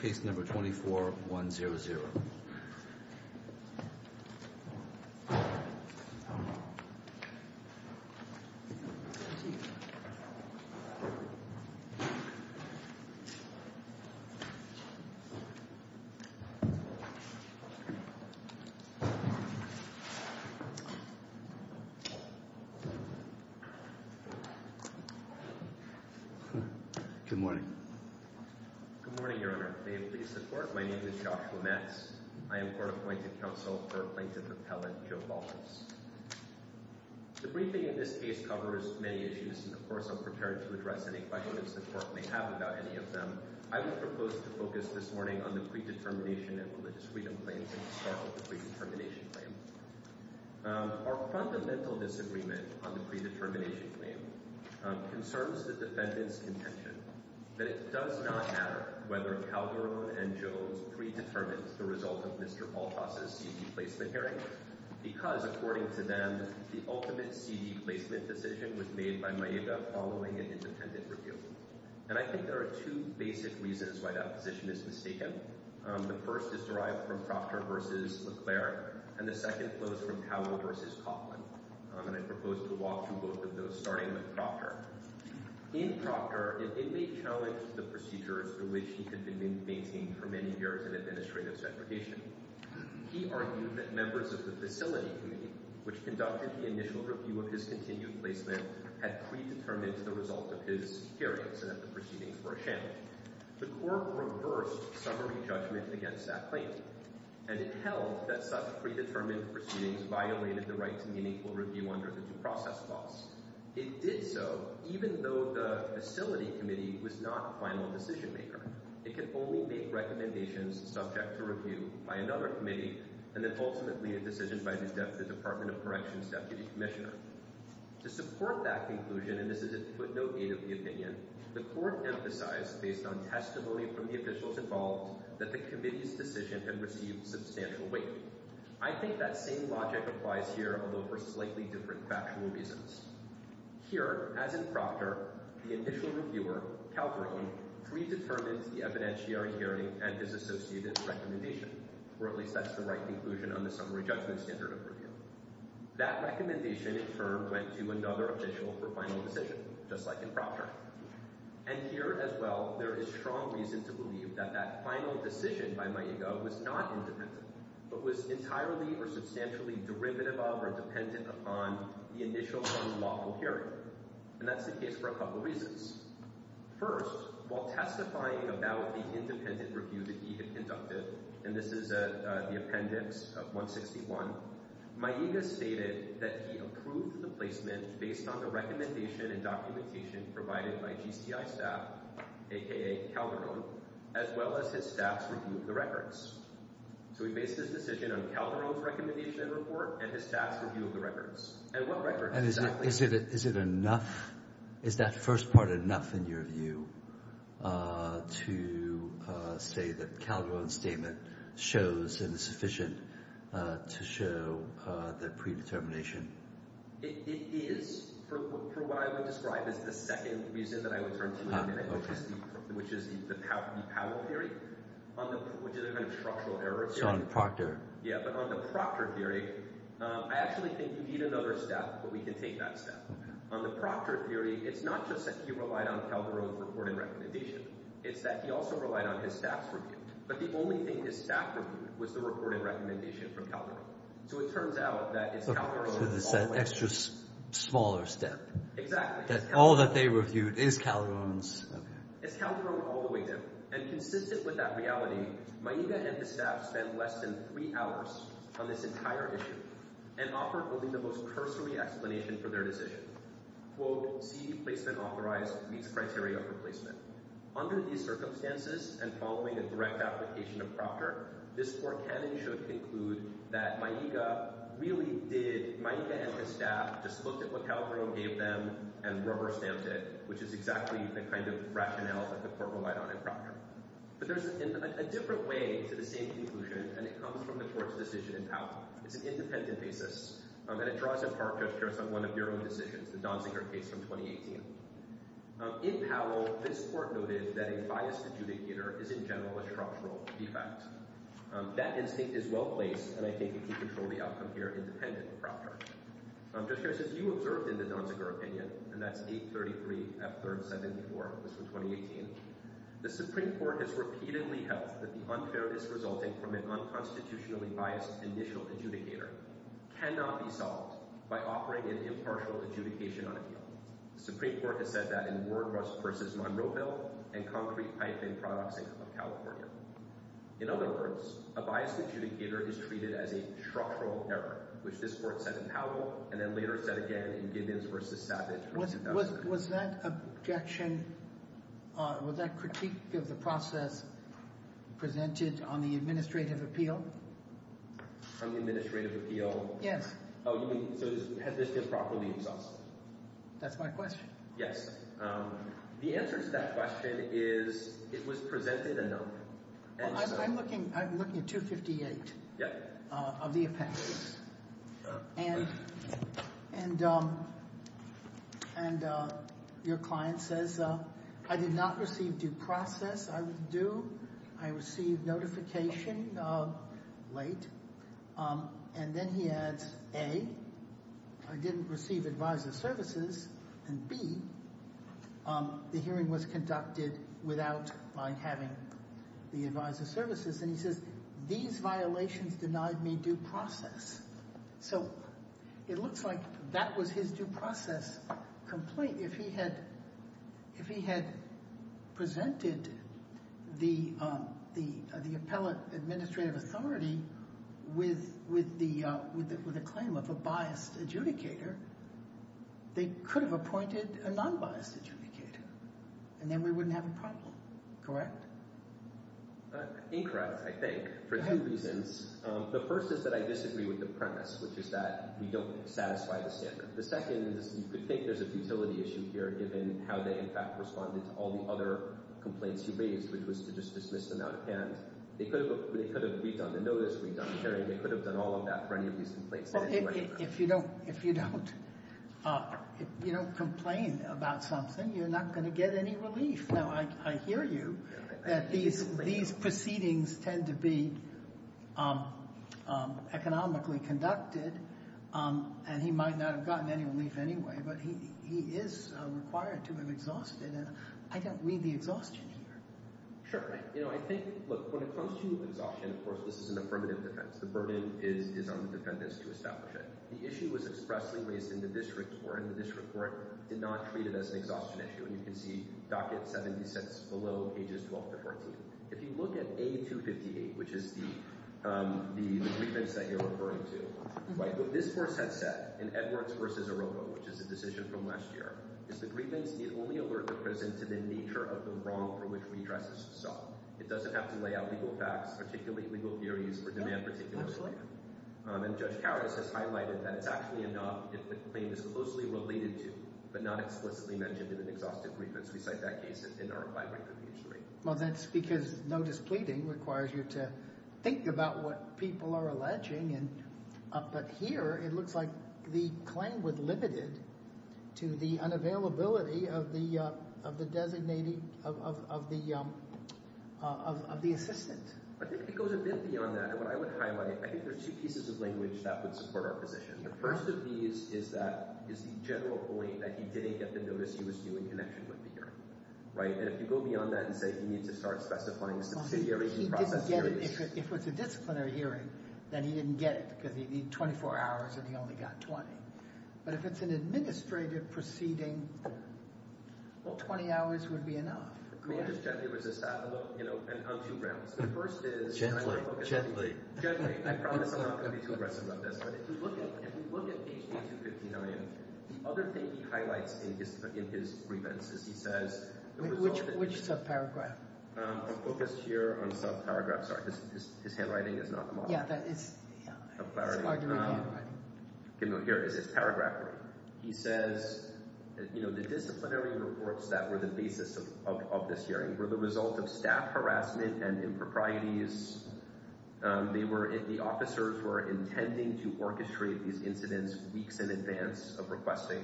case number 24-100. The briefing in this case covers many issues, and of course I'm prepared to address any questions the court may have about any of them. I would propose to focus this morning on the Predetermination and Religious Freedom Claims and to start with the Predetermination Claim. Our fundamental disagreement on the Predetermination Claim concerns the defendant's contention that it does not matter whether Calderon and Jones predetermined the result of Mr. Baltas' C.D. placement hearing because, according to them, the ultimate C.D. placement decision was made by Maiba following an independent review. And I think there are two basic reasons why that position is mistaken. The first is derived from Proctor v. Leclerc, and the second flows from Cowell v. Coughlin. And I propose to walk through both of those, starting with Proctor. In Proctor, it may challenge the procedures through which he had been maintained for many years in administrative segregation. He argued that members of the Facility Committee, which conducted the initial review of his continued placement, had predetermined the result of his hearings and that the proceedings were a sham. The Court reversed summary judgment against that claim, and it held that such predetermined proceedings violated the right to meaningful review under the due process clause. It did so even though the Facility Committee was not a final decision maker. It could only make recommendations subject to review by another committee and then ultimately a decision by the Department of Corrections Deputy Commissioner. To support that conclusion, and this is a footnote aid of the opinion, the Court emphasized based on testimony from the officials involved that the Committee's decision had received substantial weight. I think that same logic applies here, although for slightly different factual reasons. Here, as in Proctor, the initial reviewer, Calverton, predetermines the evidentiary hearing and his associated recommendation, or at least that's the right conclusion on the summary judgment standard of review. That recommendation, in turn, went to another official for final decision, just like in Proctor. And here, as well, there is strong reason to believe that that final decision by Maiga was not independent, but was entirely or substantially derivative of or dependent upon the initial one-lawful hearing. And that's the case for a couple reasons. First, while testifying about the independent review that he had conducted, and this is the appendix of 161, Maiga stated that he approved the placement based on the recommendation and documentation provided by GCI staff, a.k.a. Calderon, as well as his staff's review of the records. So he based his decision on Calderon's recommendation and report, and his staff's review of the And what records exactly— And is it enough—is that first part enough, in your view, to say that Calderon's statement shows and is sufficient to show the predetermination? It is, for what I would describe as the second reason that I would turn to, which is the Powell theory, which is a kind of structural error theory. It's on Proctor. Yeah, but on the Proctor theory, I actually think we need another step, but we can take that step. On the Proctor theory, it's not just that he relied on Calderon's report and recommendation. It's that he also relied on his staff's review. But the only thing his staff reviewed was the report and recommendation from Calderon. So it turns out that it's Calderon all the way down. So it's an extra smaller step. Exactly. That all that they reviewed is Calderon's. It's Calderon all the way down. And consistent with that reality, Maiga and his staff spent less than three hours on this entire issue and offered only the most cursory explanation for their decision. Quote, C.D. placement authorized meets criteria for placement. Under these circumstances, and following a direct application of Proctor, this court can and should conclude that Maiga really did—Maiga and his staff just looked at what Calderon gave them and rubber-stamped it, which is exactly the kind of rationale that the court relied on in Proctor. But there's a different way to the same conclusion, and it comes from the court's decision in It's an independent basis. And it draws in Proctor based on one of their own decisions, the Donziger case from 2018. In Powell, this court noted that a biased adjudicator is, in general, a structural defect. That instinct is well-placed, and I take it you control the outcome here independent of Proctor. Judge Harris, as you observed in the Donziger opinion—and that's 833 F. 3rd 74, this was 2018—the Supreme Court has repeatedly held that the unfairness resulting from an unconstitutionally biased conditional adjudicator cannot be solved by offering an impartial adjudication on appeal. The Supreme Court has said that in Ward v. Monroeville and Concrete-products of California. In other words, a biased adjudicator is treated as a structural error, which this court said in Powell, and then later said again in Gibbons v. Savage. Was that objection—was that critique of the process presented on the administrative appeal? On the administrative appeal? Yes. Oh, you mean—so has this been properly exhausted? That's my question. Yes. The answer to that question is it was presented enough. I'm looking at 258 of the appendix, and your client says, I did not receive due process. I was due. I received notification late, and then he adds, A, I didn't receive advisory services, and B, the hearing was conducted without my having the advisory services. And he says, these violations denied me due process. So it looks like that was his due process complaint. If he had presented the appellate administrative authority with a claim of a biased adjudicator, they could have appointed a non-biased adjudicator, and then we wouldn't have a problem. Correct? Incorrect, I think, for two reasons. The first is that I disagree with the premise, which is that we don't satisfy the standard. The second is you could think there's a futility issue here, given how they, in fact, responded to all the other complaints you raised, which was to just dismiss them out of hand. They could have redone the notice, redone the hearing. They could have done all of that for any of these complaints. If you don't complain about something, you're not going to get any relief. Now, I hear you that these proceedings tend to be economically conducted, and he might not have gotten any relief anyway, but he is required to have exhausted. I don't read the exhaustion here. Sure. You know, I think, look, when it comes to exhaustion, of course, this is an affirmative defense. The burden is on the defendants to establish it. The issue was expressly raised in the district court, and the district court did not treat it as an exhaustion issue, and you can see docket 70 cents below, pages 12 to 14. If you look at A258, which is the grievance that you're referring to, what this course has said in Edwards v. Arovo, which is a decision from last year, is the grievance need only alert the prison to the nature of the wrong for which we tried to solve. It doesn't have to lay out legal facts, particularly legal theories for demand particulars. Absolutely. And Judge Karras has highlighted that it's actually enough if the claim is closely related to but not explicitly mentioned in an exhaustive grievance. We cite that case in our five-record page three. Well, that's because no displeading requires you to think about what people are alleging, but here it looks like the claim was limited to the unavailability of the assistant. I think it goes a bit beyond that, and what I would highlight, I think there's two pieces of language that would support our position. The first of these is that it's the general point that he didn't get the notice he was due in connection with the hearing. And if you go beyond that and say he needs to start specifying a subsidiary in process hearings. If it's a disciplinary hearing, then he didn't get it because he needed 24 hours and he only got 20. But if it's an administrative proceeding, well, 20 hours would be enough. I mean, just gently resist that, you know, on two grounds. The first is— Gently, gently. Gently. I promise I'm not going to be too aggressive about this, but if you look at page 259, the other thing he highlights in his grievance is he says— Which subparagraph? I'm focused here on subparagraphs. Sorry, his handwriting is not the model. Yeah, that is— Subparagraph. It's Marjorie's handwriting. Here is his paragraph. He says, you know, the disciplinary reports that were the basis of this hearing were the result of staff harassment and improprieties. They were—the officers were intending to orchestrate these incidents weeks in advance of requesting,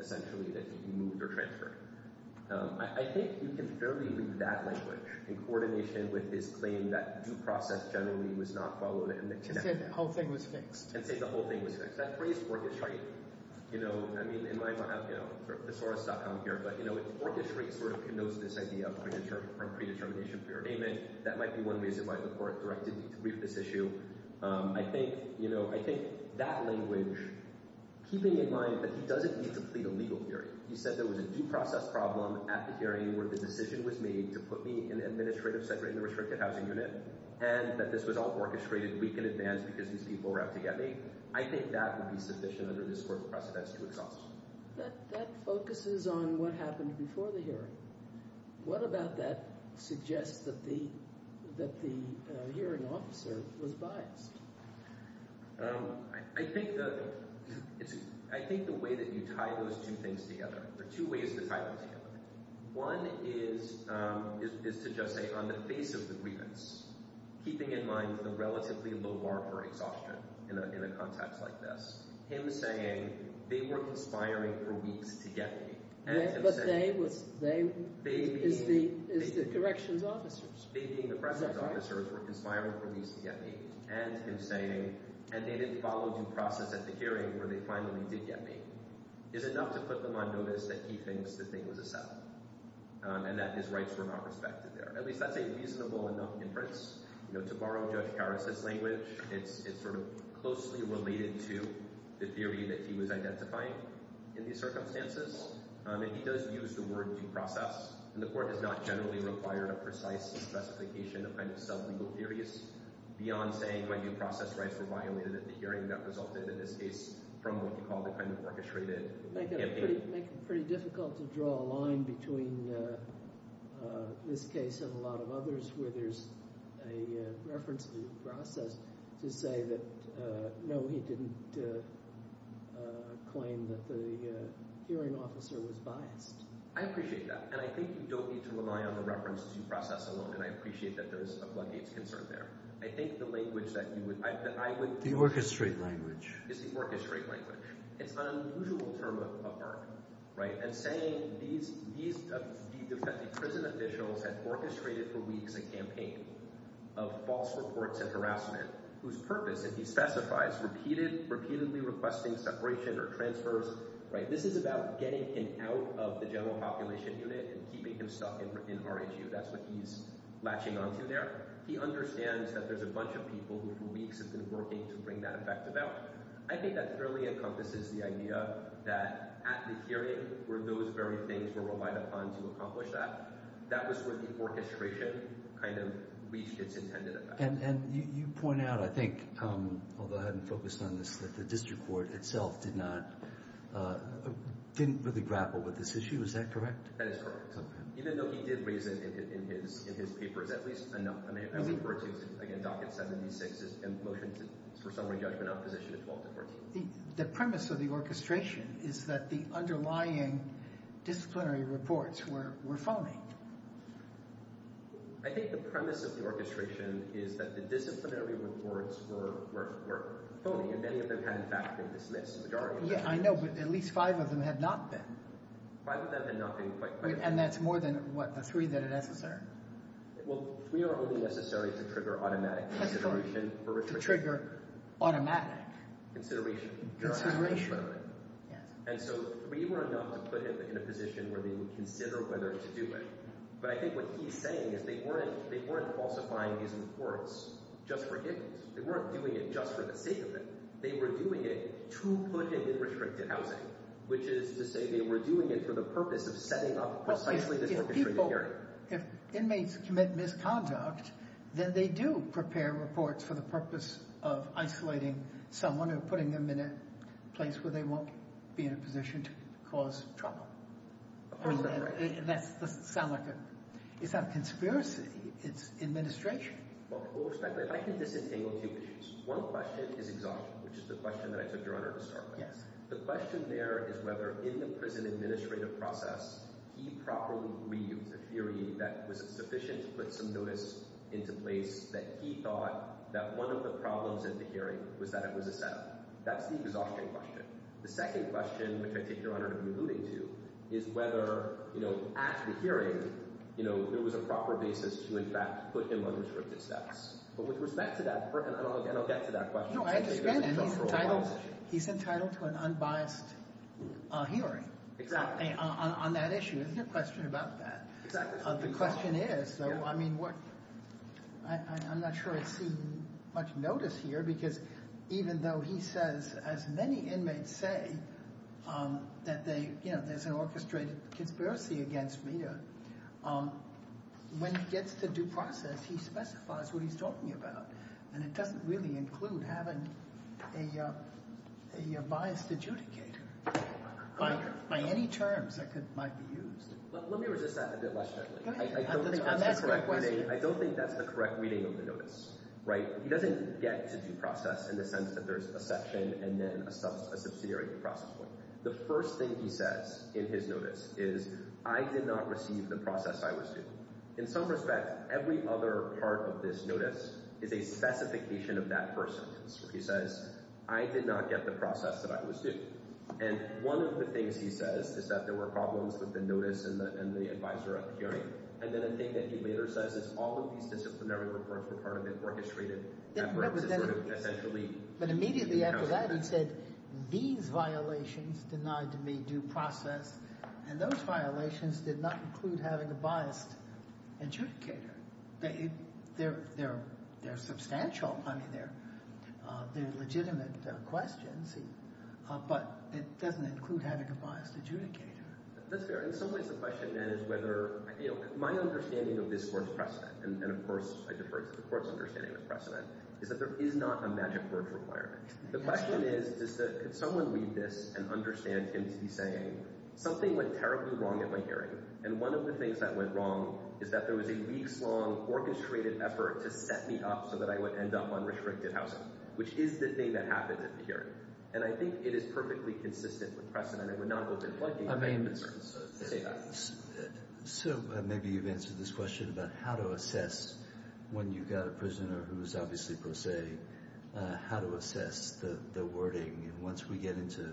essentially, that he be moved or transferred. I think you can fairly leave that language in coordination with his claim that due process generally was not followed and that— And said the whole thing was fixed. And said the whole thing was fixed. That phrase orchestrate, you know, I mean, in my mind, I have, you know, thesaurus.com here, but, you know, orchestrate sort of connotes this idea of predetermination, preordainment. That might be one reason why the court directed me to brief this issue. I think, you know, I think that language, keeping in mind that he doesn't need to plead a legal theory. He said there was a due process problem at the hearing where the decision was made to put me in an administrative-segregated and restricted housing unit and that this was all orchestrated a week in advance because these people were out to get me. I think that would be sufficient under this court's precedence to exhaust. That focuses on what happened before the hearing. What about that suggests that the hearing officer was biased? I think the—I think the way that you tie those two things together, there are two ways to tie them together. One is to just say on the face of the grievance, keeping in mind the relatively low bar for exhaustion in a context like this, him saying they were conspiring for weeks to get me. But they was—they is the corrections officers. They being the corrections officers were conspiring for weeks to get me. And him saying, and they didn't follow due process at the hearing where they finally did get me, is enough to put them on notice that he thinks the thing was a set-up and that his rights were not respected there. At least that's a reasonable enough inference. You know, to borrow Judge Karras' language, it's sort of closely related to the theory that he was identifying in these circumstances. And he does use the word due process. And the court does not generally require a precise specification of kind of sub-legal theories beyond saying my due process rights were violated at the hearing. That resulted, in this case, from what you call the kind of orchestrated campaign. It would make it pretty difficult to draw a line between this case and a lot of others where there's a reference due process to say that, no, he didn't claim that the hearing officer was biased. I appreciate that. And I think you don't need to rely on the reference due process alone. And I appreciate that there is a floodgates concern there. I think the language that you would— The orchestrate language. It's the orchestrate language. It's an unusual term of art, right? And saying these defending prison officials had orchestrated for weeks a campaign of false reports and harassment whose purpose, if he specifies, repeatedly requesting separation or transfers, right? This is about getting him out of the general population unit and keeping him stuck in RGU. That's what he's latching onto there. He understands that there's a bunch of people who, for weeks, have been working to bring that effect about. I think that fairly encompasses the idea that at the hearing where those very things were relied upon to accomplish that, that was where the orchestration kind of reached its intended effect. And you point out, I think, although I haven't focused on this, that the district court itself did not—didn't really grapple with this issue. Is that correct? That is correct. Even though he did raise it in his papers, at least enough—I mean, I refer to, again, Docket 76's motion for summary judgment on position of 12 to 14. The premise of the orchestration is that the underlying disciplinary reports were phony. I think the premise of the orchestration is that the disciplinary reports were phony, and many of them had, in fact, been dismissed. Yeah, I know, but at least five of them had not been. Five of them had not been quite correct. And that's more than, what, the three that are necessary? Well, three are only necessary to trigger automatic consideration for— To trigger automatic— Consideration. Consideration. And so three were enough to put him in a position where they would consider whether to do it. But I think what he's saying is they weren't falsifying these reports just for him. They weren't doing it just for the sake of it. They were doing it to put him in restricted housing, which is to say they were doing it for the purpose of setting up precisely this orchestrated hearing. Well, if people—if inmates commit misconduct, then they do prepare reports for the purpose of isolating someone or putting them in a place where they won't be in a position to cause trouble. Isn't that right? That doesn't sound like a—it's not a conspiracy. It's administration. Well, respectfully, I can disentangle two issues. One question is exhaustion, which is the question that I took Your Honor to start with. Yes. The question there is whether in the prison administrative process he properly reused a theory that was sufficient to put some notice into place that he thought that one of the problems in the hearing was that it was a setup. That's the exhaustion question. The second question, which I take Your Honor to be alluding to, is whether, you know, at the hearing, you know, there was a proper basis to, in fact, put him on restricted steps. But with respect to that—and I'll get to that question. No, I understand that he's entitled—he's entitled to an unbiased hearing. Exactly. On that issue. There's no question about that. Exactly. The question is, though, I mean, what—I'm not sure I see much notice here because even though he says as many inmates say that they, you know, there's an orchestrated conspiracy against Mita, when he gets to due process, he specifies what he's talking about. And it doesn't really include having a biased adjudicator by any terms that might be used. Let me resist that a bit less generally. Go ahead. I don't think that's the correct reading of the notice, right? He doesn't get to due process in the sense that there's a section and then a subsidiary due process point. The first thing he says in his notice is, I did not receive the process I was due. In some respect, every other part of this notice is a specification of that first sentence. He says, I did not get the process that I was due. And one of the things he says is that there were problems with the notice and the adviser at the hearing. And then a thing that he later says is all of these disciplinary reports were part of an orchestrated effort to sort of essentially— But immediately after that he said these violations denied to me due process, and those violations did not include having a biased adjudicator. They're substantial. I mean, they're legitimate questions, but it doesn't include having a biased adjudicator. That's fair. In some ways the question then is whether—my understanding of this Court's precedent, and, of course, I defer to the Court's understanding of precedent, is that there is not a magic word requirement. The question is could someone read this and understand him to be saying something went terribly wrong at my hearing, and one of the things that went wrong is that there was a weeks-long orchestrated effort to set me up so that I would end up on restricted housing, which is the thing that happened at the hearing. And I think it is perfectly consistent with precedent. So maybe you've answered this question about how to assess when you've got a prisoner who is obviously pro se, how to assess the wording. And once we get into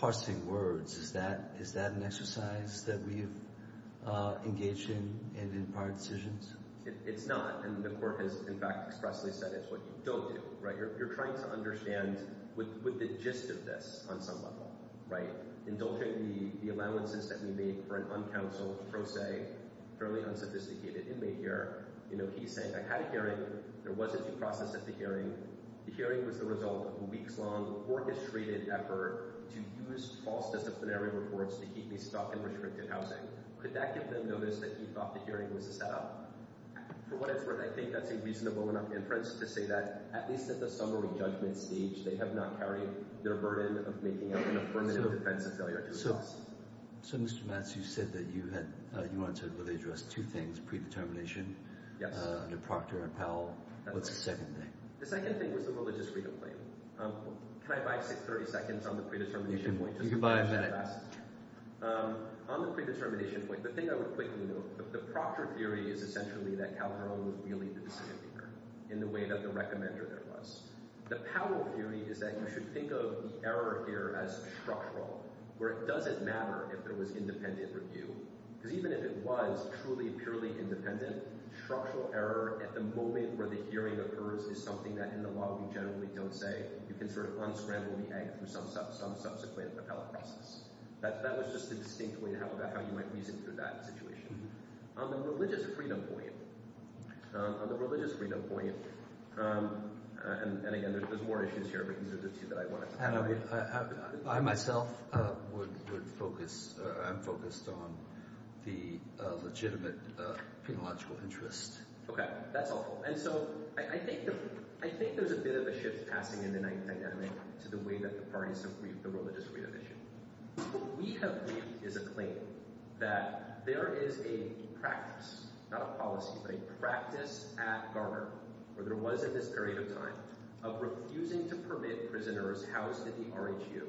parsing words, is that an exercise that we have engaged in in prior decisions? It's not, and the Court has, in fact, expressly said it's what you don't do. You're trying to understand with the gist of this on some level. Indulging the allowances that we made for an uncounseled pro se, fairly unsophisticated inmate here, he's saying I had a hearing. There was a due process at the hearing. The hearing was the result of a weeks-long orchestrated effort to use false disciplinary reports to keep me stuck in restricted housing. Could that give them notice that he thought the hearing was a setup? For what it's worth, I think that's a reasonable enough inference to say that at least at the summary judgment stage, they have not carried their burden of making up an affirmative defense of failure due process. So, Mr. Matz, you said that you had – you answered, really, addressed two things, predetermination, the proctor and Powell. What's the second thing? The second thing was the religious freedom claim. Can I buy, say, 30 seconds on the predetermination point? You can buy a minute. On the predetermination point, the thing I would quickly note, the proctor theory is essentially that Calderon was really the decision-maker in the way that the recommender there was. The Powell theory is that you should think of the error here as structural, where it doesn't matter if there was independent review. Because even if it was truly, purely independent, structural error at the moment where the hearing occurs is something that, in the law, we generally don't say. You can sort of unscramble the egg for some subsequent appellate process. That was just a distinct way to have a – how you might reason through that situation. On the religious freedom point – on the religious freedom point – and, again, there's more issues here, but these are the two that I wanted to highlight. I myself would focus – I'm focused on the legitimate penological interest. Okay. That's all. And so I think there's a bit of a shift passing in the ninth dynamic to the way that the parties have briefed the religious freedom issue. What we have briefed is a claim that there is a practice – not a policy, but a practice at Garner, where there was in this period of time, of refusing to permit prisoners housed at the RHU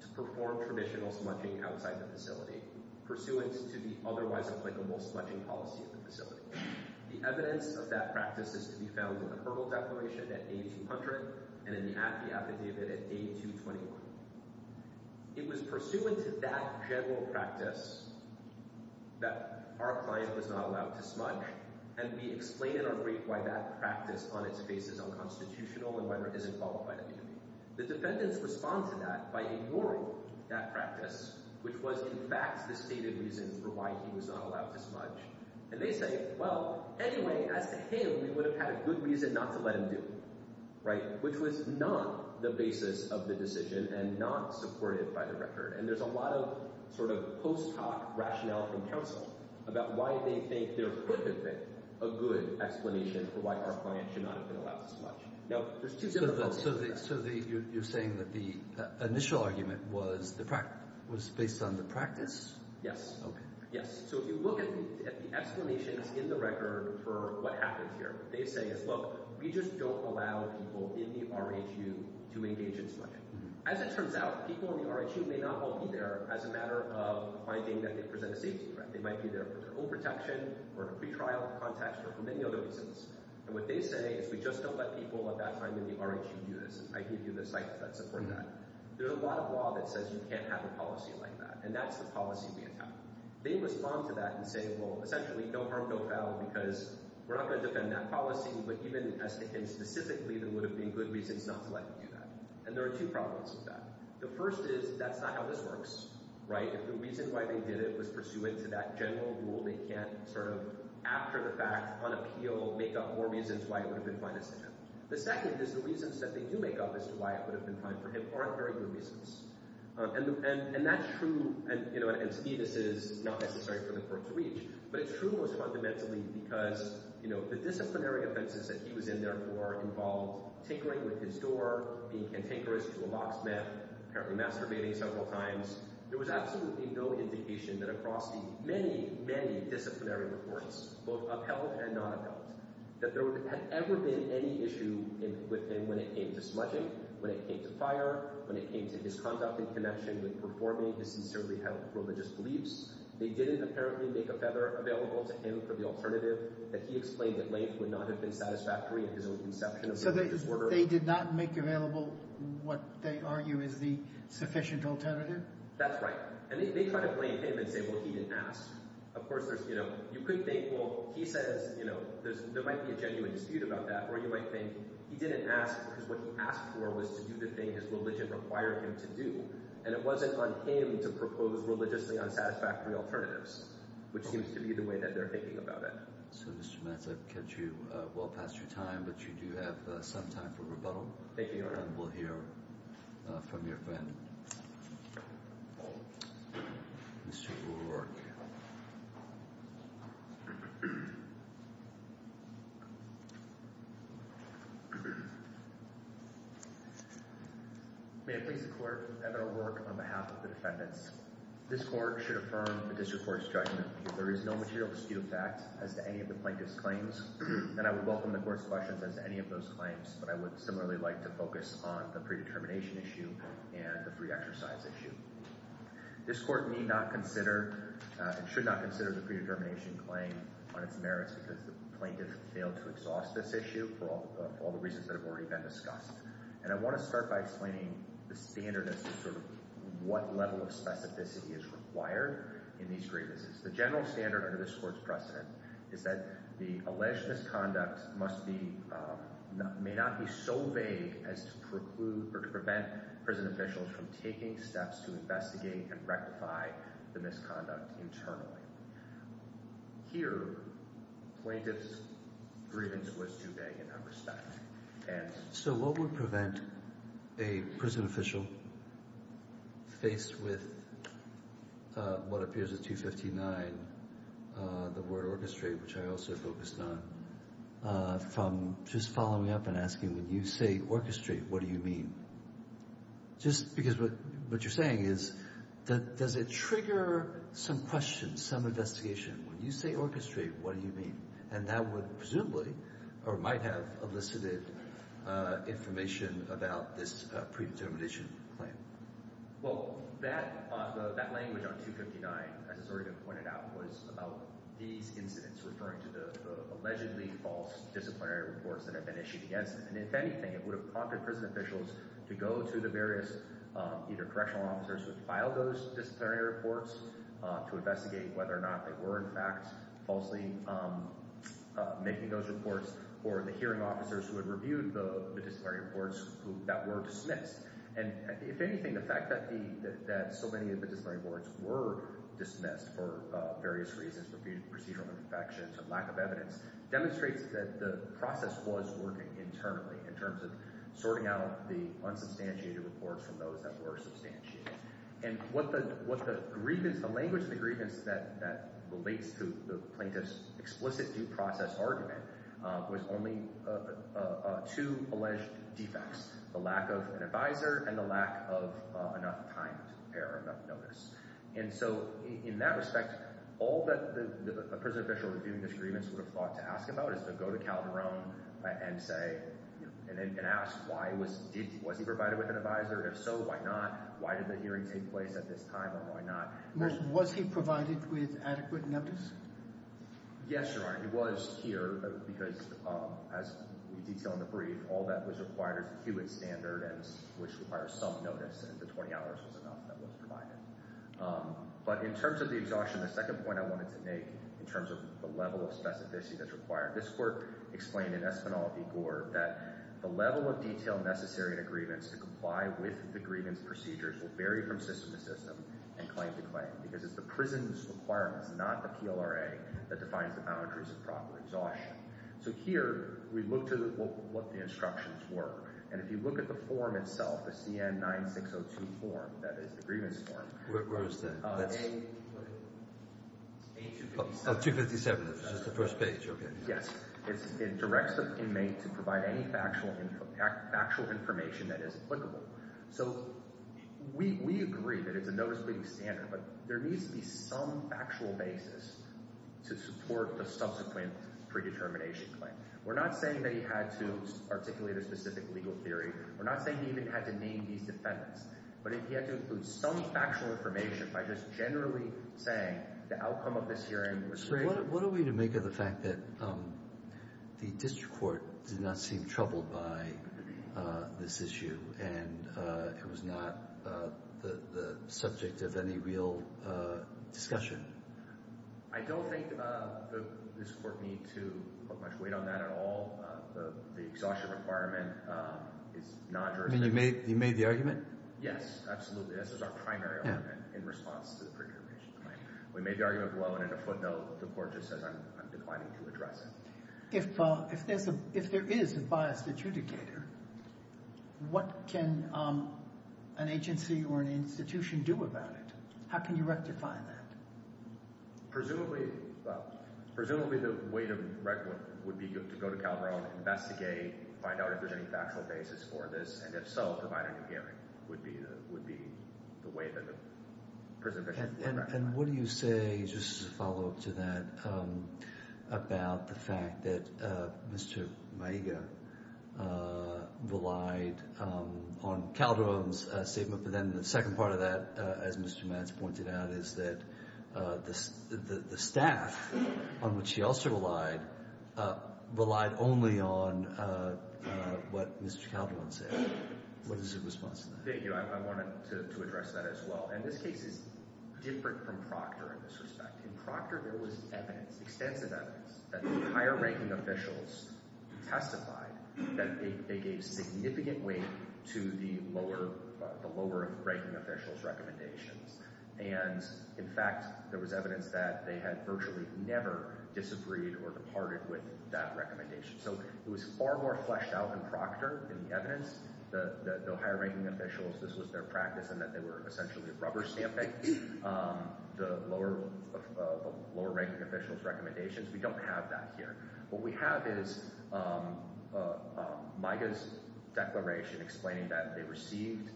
to perform traditional smudging outside the facility pursuant to the otherwise applicable smudging policy of the facility. The evidence of that practice is to be found in the Hurdle Declaration at day 200 and in the AFI affidavit at day 221. It was pursuant to that general practice that our client was not allowed to smudge, and we explain in our brief why that practice on its face is unconstitutional and whether it isn't qualified of duty. The defendants respond to that by ignoring that practice, which was in fact the stated reason for why he was not allowed to smudge. And they say, well, anyway, as to him, we would have had a good reason not to let him do it, right, which was not the basis of the decision and not supported by the record. And there's a lot of sort of post-hoc rationale in counsel about why they think there could have been a good explanation for why our client should not have been allowed to smudge. Now, there's two separate folks. So you're saying that the initial argument was based on the practice? Yes. Okay. Yes. So if you look at the explanations in the record for what happened here, what they say is, look, we just don't allow people in the R.H.U. to engage in smudging. As it turns out, people in the R.H.U. may not all be there as a matter of finding that they present a safety threat. They might be there for their own protection or to pretrial contacts or for many other reasons. And what they say is we just don't let people at that time in the R.H.U. do this, and I give you the sites that support that. There's a lot of law that says you can't have a policy like that, and that's the policy we adopt. They respond to that and say, well, essentially, no harm, no foul, because we're not going to defend that policy. But even as to him specifically, there would have been good reasons not to let him do that. And there are two problems with that. The first is that's not how this works. Right? If the reason why they did it was pursuant to that general rule, they can't sort of, after the fact, on appeal make up more reasons why it would have been fine for him. The second is the reasons that they do make up as to why it would have been fine for him aren't very good reasons. And that's true, and to me this is not necessary for the court to reach, but it's true most fundamentally because the disciplinary offenses that he was in there for involved tinkering with his door, being cantankerous to a locksmith, apparently masturbating several times. There was absolutely no indication that across the many, many disciplinary reports, both upheld and not upheld, that there had ever been any issue with him when it came to smudging, when it came to fire, when it came to his conduct in connection with performing his sincerely held religious beliefs. They didn't apparently make a feather available to him for the alternative that he explained that length would not have been satisfactory in his own conception of religious order. So they did not make available what they argue is the sufficient alternative? That's right. And they try to blame him and say, well, he didn't ask. Of course, you could think, well, he says, you know, there might be a genuine dispute about that, or you might think he didn't ask because what he asked for was to do the thing his religion required him to do, and it wasn't on him to propose religiously unsatisfactory alternatives, which seems to be the way that they're thinking about it. So, Mr. Matz, I've kept you well past your time, but you do have some time for rebuttal. Thank you, Your Honor. And we'll hear from your friend, Mr. Ulrich. May it please the Court that I will work on behalf of the defendants. This court should affirm the district court's judgment. There is no material dispute of fact as to any of the plaintiff's claims, and I would welcome the court's questions as to any of those claims, but I would similarly like to focus on the predetermination issue and the free exercise issue. This court need not consider and should not consider the predetermination claim on its merits because the plaintiff failed to exhaust this issue for all the reasons that have already been discussed. And I want to start by explaining the standard as to sort of what level of specificity is required in these grievances. The general standard under this court's precedent is that the alleged misconduct may not be so vague as to preclude or to prevent prison officials from taking steps to investigate and rectify the misconduct internally. Here, plaintiff's grievance was too vague in that respect. So what would prevent a prison official faced with what appears as 259, the word orchestrate, which I also focused on, from just following up and asking, when you say orchestrate, what do you mean? Just because what you're saying is, does it trigger some questions, some investigation? When you say orchestrate, what do you mean? And that would presumably or might have elicited information about this predetermination claim. Well, that language on 259, as has already been pointed out, was about these incidents referring to the allegedly false disciplinary reports that have been issued against them. And if anything, it would have prompted prison officials to go to the various either correctional officers who had filed those disciplinary reports to investigate whether or not they were in fact falsely making those reports or the hearing officers who had reviewed the disciplinary reports that were dismissed. And if anything, the fact that so many of the disciplinary reports were dismissed for various reasons, for procedural imperfections or lack of evidence, demonstrates that the process was working internally in terms of sorting out the unsubstantiated reports from those that were substantiated. And what the grievance, the language of the grievance that relates to the plaintiff's explicit due process argument was only two alleged defects, the lack of an advisor and the lack of enough time to prepare enough notice. And so in that respect, all that a prison official reviewing this grievance would have thought to ask about is to go to Calderon and say, and ask, was he provided with an advisor? If so, why not? Why did the hearing take place at this time and why not? Was he provided with adequate notice? Yes, Your Honor, he was here because, as we detail in the brief, all that was required as a Hewitt standard which requires some notice and the 20 hours was enough that was provided. But in terms of the exhaustion, the second point I wanted to make in terms of the level of specificity that's required, this court explained in Espinal v. Gore that the level of detail necessary in a grievance to comply with the grievance procedures will vary from system to system and claim to claim because it's the prison's requirements, not the PLRA, that defines the boundaries of proper exhaustion. So here, we look to what the instructions were, and if you look at the form itself, the CN-9602 form, that is the grievance form. Where is that? It's A257. Oh, 257, it's just the first page, okay. Yes, it directs the inmate to provide any factual information that is applicable. So we agree that it's a notice-bleeding standard, but there needs to be some factual basis to support the subsequent predetermination claim. We're not saying that he had to articulate a specific legal theory. We're not saying he even had to name these defendants. But if he had to include some factual information by just generally saying the outcome of this hearing was What are we to make of the fact that the district court did not seem troubled by this issue and it was not the subject of any real discussion? I don't think this court need to put much weight on that at all. The exhaustion requirement is not directed. You made the argument? Yes, absolutely. This is our primary argument in response to the predetermination claim. We made the argument below, and in a footnote, the court just says I'm declining to address it. If there is a biased adjudicator, what can an agency or an institution do about it? How can you rectify that? Presumably the way to rectify it would be to go to Calderon, investigate, find out if there's any factual basis for this, and if so, provide a new hearing would be the way that the prison officials would rectify it. And what do you say, just as a follow-up to that, about the fact that Mr. Maiga relied on Calderon's statement, but then the second part of that, as Mr. Matz pointed out, is that the staff, on which he also relied, relied only on what Mr. Calderon said. What is your response to that? Thank you. I wanted to address that as well. And this case is different from Procter in this respect. In Procter, there was evidence, extensive evidence, that the higher-ranking officials testified that they gave significant weight to the lower-ranking officials' recommendations. And, in fact, there was evidence that they had virtually never disagreed or departed with that recommendation. So it was far more fleshed out in Procter than the evidence. The higher-ranking officials, this was their practice in that they were essentially rubber stamping the lower-ranking officials' recommendations. We don't have that here. What we have is Maiga's declaration explaining that they received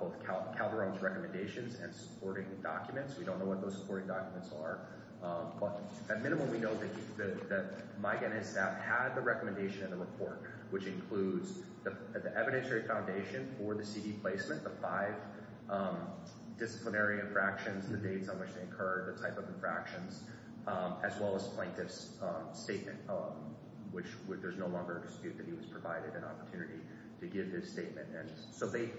both Calderon's recommendations and supporting documents. We don't know what those supporting documents are. But, at minimum, we know that Maiga and his staff had the recommendation in the report, which includes the evidentiary foundation for the CD placement, the five disciplinary infractions, the dates on which they occurred, the type of infractions, as well as Plaintiff's statement, which there's no longer a dispute that he was provided an opportunity to give this statement. So they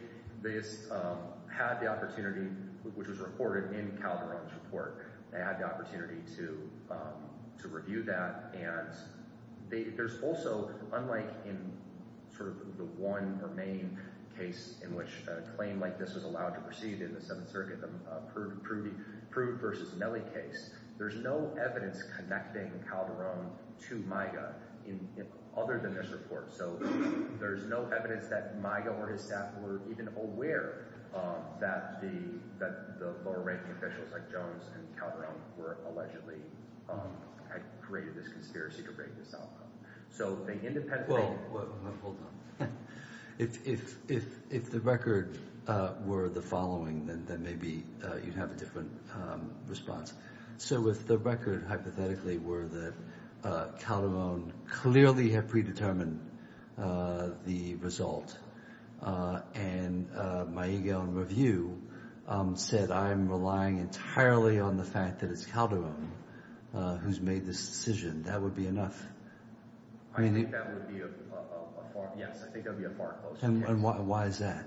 had the opportunity, which was recorded in Calderon's report. They had the opportunity to review that. And there's also, unlike in sort of the one or main case in which a claim like this was allowed to proceed in the Seventh Circuit, the Prude v. Melle case, there's no evidence connecting Calderon to Maiga other than this report. So there's no evidence that Maiga or his staff were even aware that the lower ranking officials like Jones and Calderon allegedly had created this conspiracy to break this outcome. So they independently— Well, hold on. If the record were the following, then maybe you'd have a different response. So if the record hypothetically were that Calderon clearly had predetermined the result and Maiga, on review, said, I'm relying entirely on the fact that it's Calderon who's made this decision, that would be enough. I think that would be a far—yes, I think that would be a far closer case. And why is that?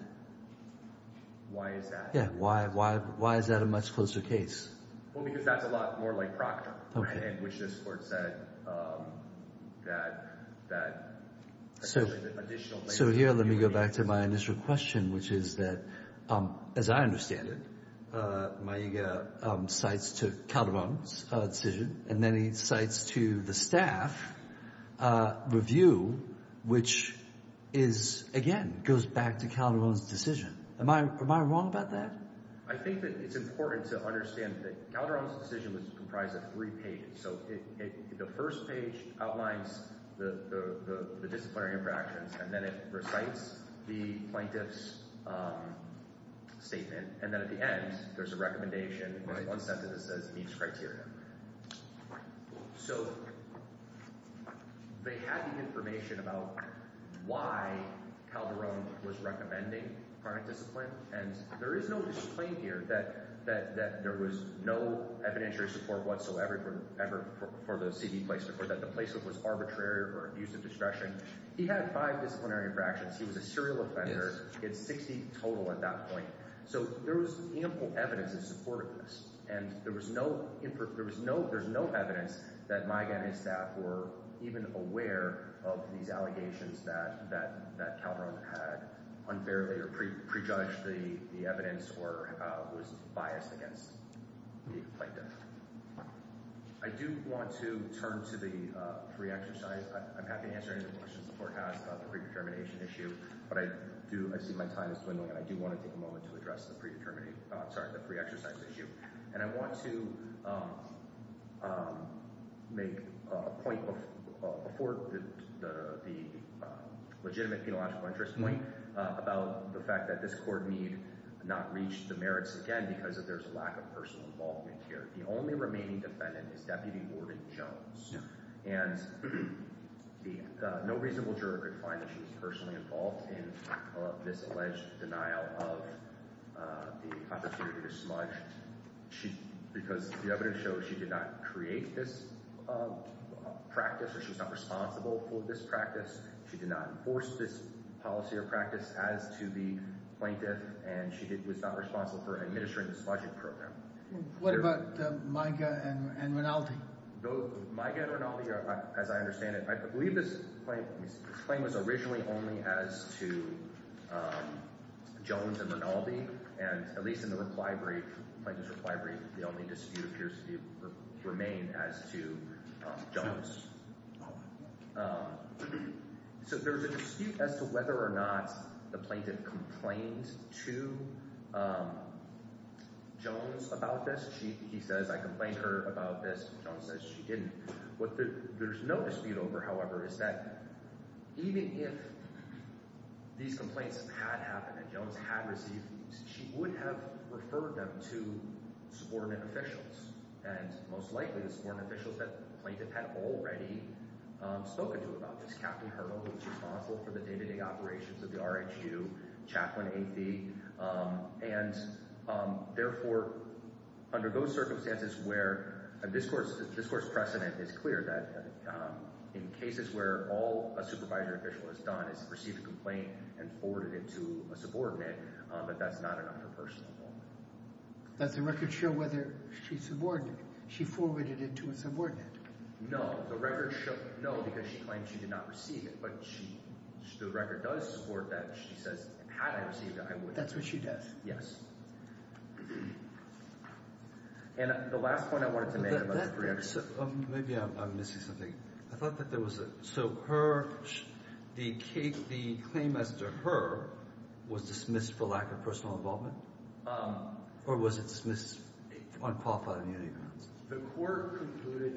Why is that? Yeah, why is that a much closer case? Well, because that's a lot more like Procter, which this Court said that additional— So here, let me go back to my initial question, which is that, as I understand it, Maiga cites to Calderon's decision, and then he cites to the staff review, which is, again, goes back to Calderon's decision. Am I wrong about that? I think that it's important to understand that Calderon's decision was comprised of three pages. So the first page outlines the disciplinary interactions, and then it recites the plaintiff's statement. And then at the end, there's a recommendation. There's one sentence that says, meets criteria. So they had the information about why Calderon was recommending chronic discipline, and there is no disclaim here that there was no evidentiary support whatsoever for the C.D. placement, or that the placement was arbitrary or abuse of discretion. He had five disciplinary interactions. He was a serial offender. He had 60 total at that point. So there was ample evidence in support of this. And there was no evidence that Maiga and his staff were even aware of these allegations that Calderon had unfairly or prejudged the evidence or was biased against the plaintiff. I do want to turn to the pre-exercise. I'm happy to answer any questions the Court has about the predetermination issue, but I see my time is dwindling, and I do want to take a moment to address the pre-exercise issue. And I want to make a point before the legitimate penological interest point about the fact that this Court need not reach the merits again because of there's a lack of personal involvement here. The only remaining defendant is Deputy Warden Jones. And no reasonable juror could find that she was personally involved in this alleged denial of the opportunity to smudge because the evidence shows she did not create this practice or she was not responsible for this practice. She did not enforce this policy or practice as to the plaintiff, and she was not responsible for administering the smudging program. What about Maiga and Rinaldi? Maiga and Rinaldi, as I understand it, I believe this claim was originally only as to Jones and Rinaldi, and at least in the reply brief, the plaintiff's reply brief, the only dispute appears to remain as to Jones. So there's a dispute as to whether or not the plaintiff complained to Jones about this. He says, I complained to her about this, and Jones says she didn't. What there's no dispute over, however, is that even if these complaints had happened and Jones had received these, she would have referred them to subordinate officials, and most likely the subordinate officials that the plaintiff had already spoken to about this. who was responsible for the day-to-day operations of the RHU, Chaplain A.V., and therefore under those circumstances where a discourse precedent is clear that in cases where all a supervisor official has done is received a complaint and forwarded it to a subordinate, but that's not enough for personal involvement. Does the record show whether she subordinated? She forwarded it to a subordinate? No, the record shows, no, because she claims she did not receive it, but the record does support that. She says, had I received it, I would have. That's what she does. Yes. And the last point I wanted to make about the three other cases. Maybe I'm missing something. I thought that there was a, so her, the claim as to her was dismissed for lack of personal involvement, or was it dismissed on qualified immunity grounds? The court concluded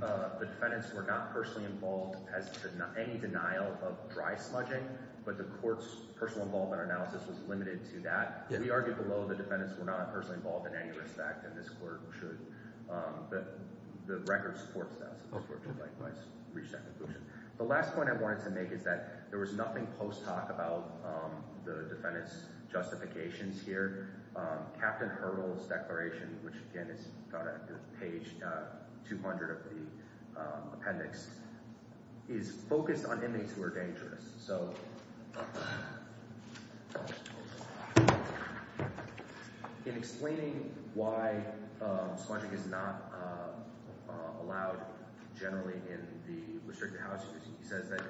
that the defendants were not personally involved as to any denial of dry smudging, but the court's personal involvement analysis was limited to that. We argued below the defendants were not personally involved in any respect, and this court should, the record supports that, so this court should likewise reach that conclusion. The last point I wanted to make is that there was nothing post hoc about the defendants' justifications here. Captain Hurdle's declaration, which again is on page 200 of the appendix, is focused on inmates who are dangerous. So in explaining why smudging is not allowed generally in the restricted housing, he says that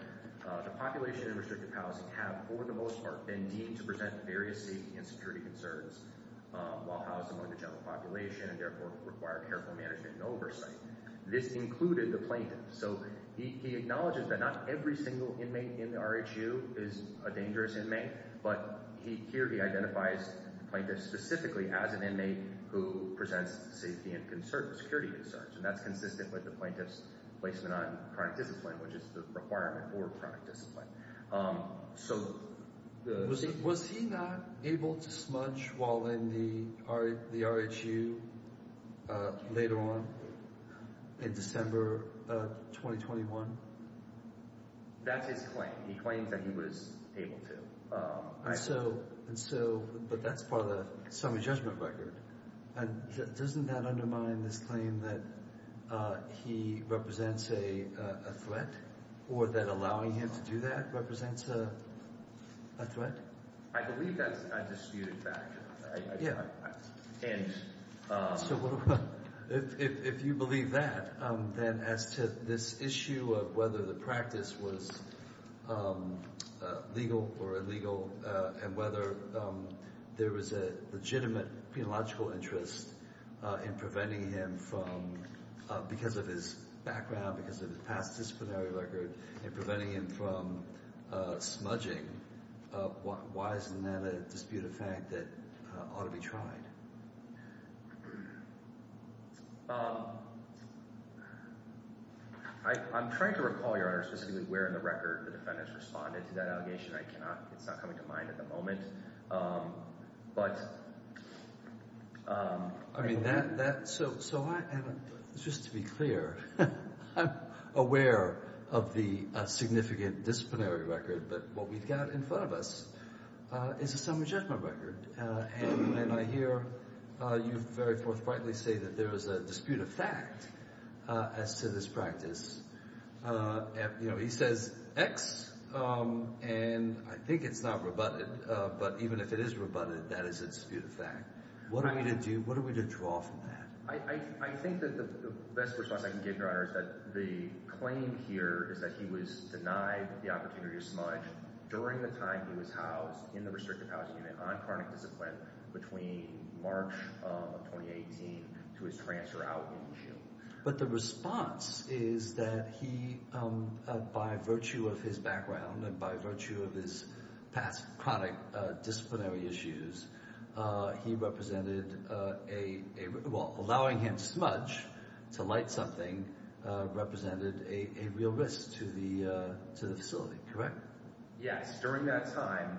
the population in restricted housing have for the most part been deemed to present various safety and security concerns while housed among the general population and therefore require careful management and oversight. This included the plaintiff. So he acknowledges that not every single inmate in the RHU is a dangerous inmate, but here he identifies the plaintiff specifically as an inmate who presents safety and concerns, security concerns, and that's consistent with the plaintiff's placement on chronic discipline, which is the requirement for chronic discipline. So was he not able to smudge while in the RHU later on in December 2021? That's his claim. He claims that he was able to. But that's part of the summary judgment record. Doesn't that undermine this claim that he represents a threat or that allowing him to do that represents a threat? I believe that's a disputed fact. So if you believe that, then as to this issue of whether the practice was legal or illegal and whether there was a legitimate penological interest in preventing him from, because of his background, because of his past disciplinary record, in preventing him from smudging, why isn't that a disputed fact that ought to be tried? I'm trying to recall, Your Honor, specifically where in the record the defendants responded to that allegation. It's not coming to mind at the moment. So just to be clear, I'm aware of the significant disciplinary record, but what we've got in front of us is a summary judgment record. And I hear you very forthrightly say that there is a disputed fact as to this practice. He says X, and I think it's not rebutted, but even if it is rebutted, that is a disputed fact. What are we to do? What are we to draw from that? I think that the best response I can give, Your Honor, is that the claim here is that he was denied the opportunity to smudge during the time he was housed in the restricted housing unit on chronic discipline between March of 2018 to his transfer out in June. But the response is that he, by virtue of his background and by virtue of his past chronic disciplinary issues, he represented a – well, allowing him to smudge, to light something, represented a real risk to the facility, correct? Yes, during that time.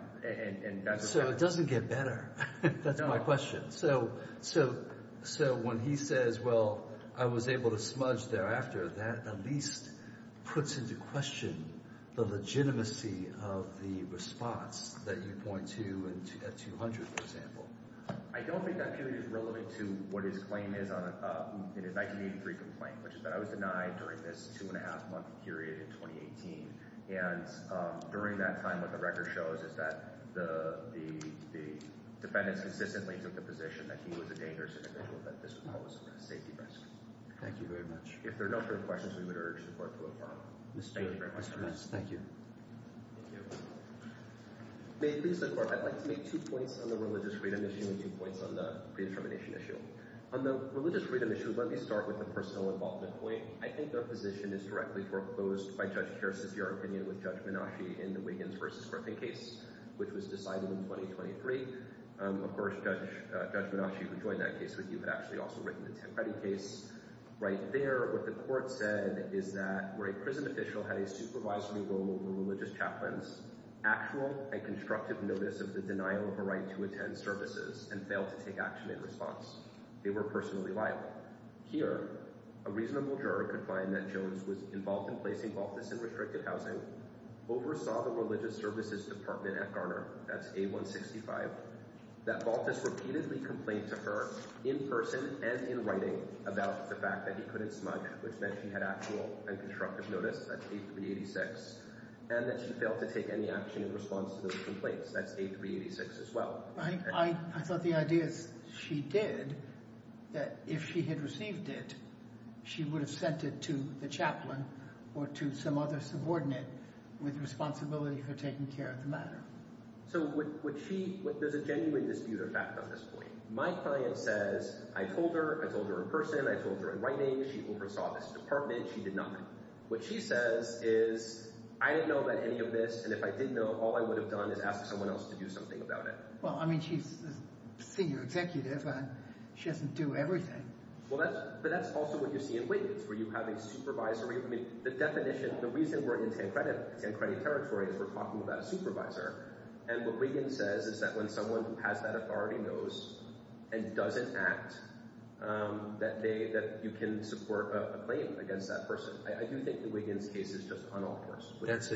So it doesn't get better. That's my question. So when he says, well, I was able to smudge thereafter, that at least puts into question the legitimacy of the response that you point to at 200, for example. I don't think that period is relevant to what his claim is in a 1983 complaint, which is that I was denied during this two-and-a-half-month period in 2018. And during that time, what the record shows is that the defendants consistently took the position that he was a dangerous individual, that this was a safety risk. Thank you very much. If there are no further questions, we would urge the Court to approve. Thank you very much, Your Honor. Thank you. Thank you. May it please the Court, I'd like to make two points on the religious freedom issue and two points on the predetermination issue. On the religious freedom issue, let me start with a personal involvement point. I think the position is directly foreclosed by Judge Gerst's, your opinion with Judge Menasche in the Wiggins v. Griffin case, which was decided in 2023. Of course, Judge Menasche, who joined that case with you, had actually also written the Tim Cuddy case. Right there, what the Court said is that where a prison official had a supervisory role over religious chaplains, actual and constructive notice of the denial of a right to attend services and failed to take action in response. They were personally liable. Here, a reasonable juror could find that Jones was involved in placing Baltus in restricted housing, oversaw the religious services department at Garner, that's A165, that Baltus repeatedly complained to her in person and in writing about the fact that he couldn't smudge, which meant she had actual and constructive notice, that's A386, and that she failed to take any action in response to those complaints, that's A386 as well. I thought the idea is she did, that if she had received it, she would have sent it to the chaplain or to some other subordinate with responsibility for taking care of the matter. So would she – there's a genuine dispute of fact on this point. My client says I told her, I told her in person, I told her in writing, she oversaw this department, she did not. What she says is I didn't know about any of this, and if I did know, all I would have done is asked someone else to do something about it. Well, I mean, she's the senior executive, and she doesn't do everything. Well, that's – but that's also what you see in Wiggins, where you have a supervisory – I mean, the definition – the reason we're in San Credit territory is we're talking about a supervisor, and what Wiggins says is that when someone who has that authority knows and doesn't act, that they – that you can support a claim against that person. I do think the Wiggins case is just unauthorized. That's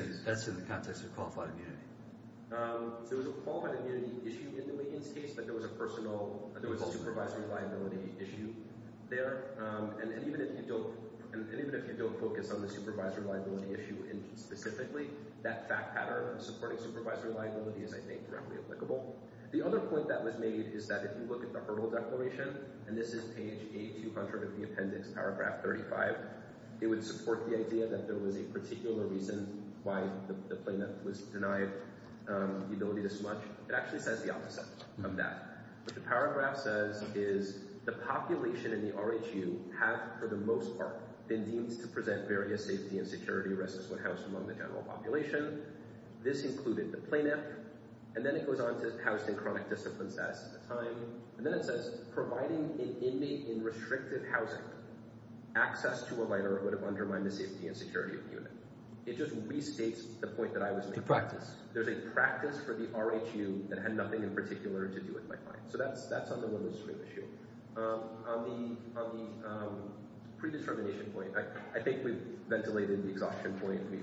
in the context of qualified immunity. There was a qualified immunity issue in the Wiggins case, but there was a personal – there was a supervisory liability issue there. And even if you don't – and even if you don't focus on the supervisory liability issue specifically, that fact pattern of supporting supervisory liability is, I think, directly applicable. The other point that was made is that if you look at the Hurdle Declaration, and this is page A200 of the appendix, paragraph 35, it would support the idea that there was a particular reason why the plaintiff was denied the ability to smudge. It actually says the opposite of that. What the paragraph says is the population in the RHU have, for the most part, been deemed to present various safety and security risks when housed among the general population. This included the plaintiff, and then it goes on to housed in chronic discipline status at the time, and then it says providing an inmate in restrictive housing access to a letter would have undermined the safety and security of the unit. It just restates the point that I was making. The practice. So that's on the women's group issue. On the predetermination point, I think we've ventilated the exhaustion point. We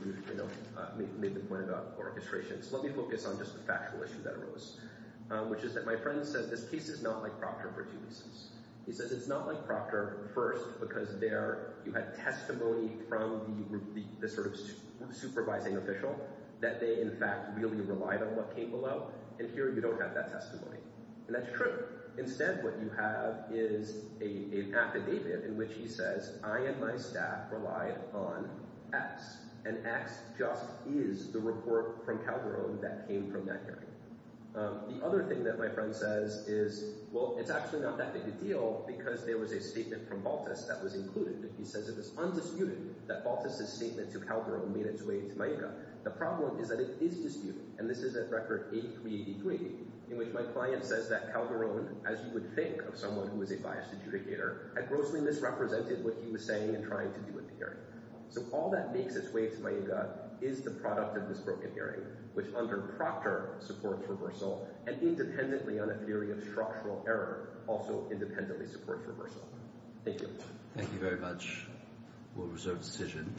made the point about orchestration. So let me focus on just the factual issue that arose, which is that my friend says this case is not like Proctor for two reasons. He says it's not like Proctor, first, because there you had testimony from the sort of supervising official that they, in fact, really relied on what came below, and here you don't have that testimony. And that's true. Instead, what you have is an affidavit in which he says I and my staff relied on X, and X just is the report from Calgary that came from that hearing. The other thing that my friend says is, well, it's actually not that big a deal because there was a statement from Baltus that was included. He says it is undisputed that Baltus' statement to Calderon made its way into MIEGA. The problem is that it is disputed, and this is at Record 8383, in which my client says that Calderon, as you would think of someone who is a biased adjudicator, had grossly misrepresented what he was saying and trying to do at the hearing. So all that makes its way to MIEGA is the product of this broken hearing, which under Proctor supports reversal, and independently on a theory of structural error, also independently supports reversal. Thank you. Thank you very much. We'll reserve the decision.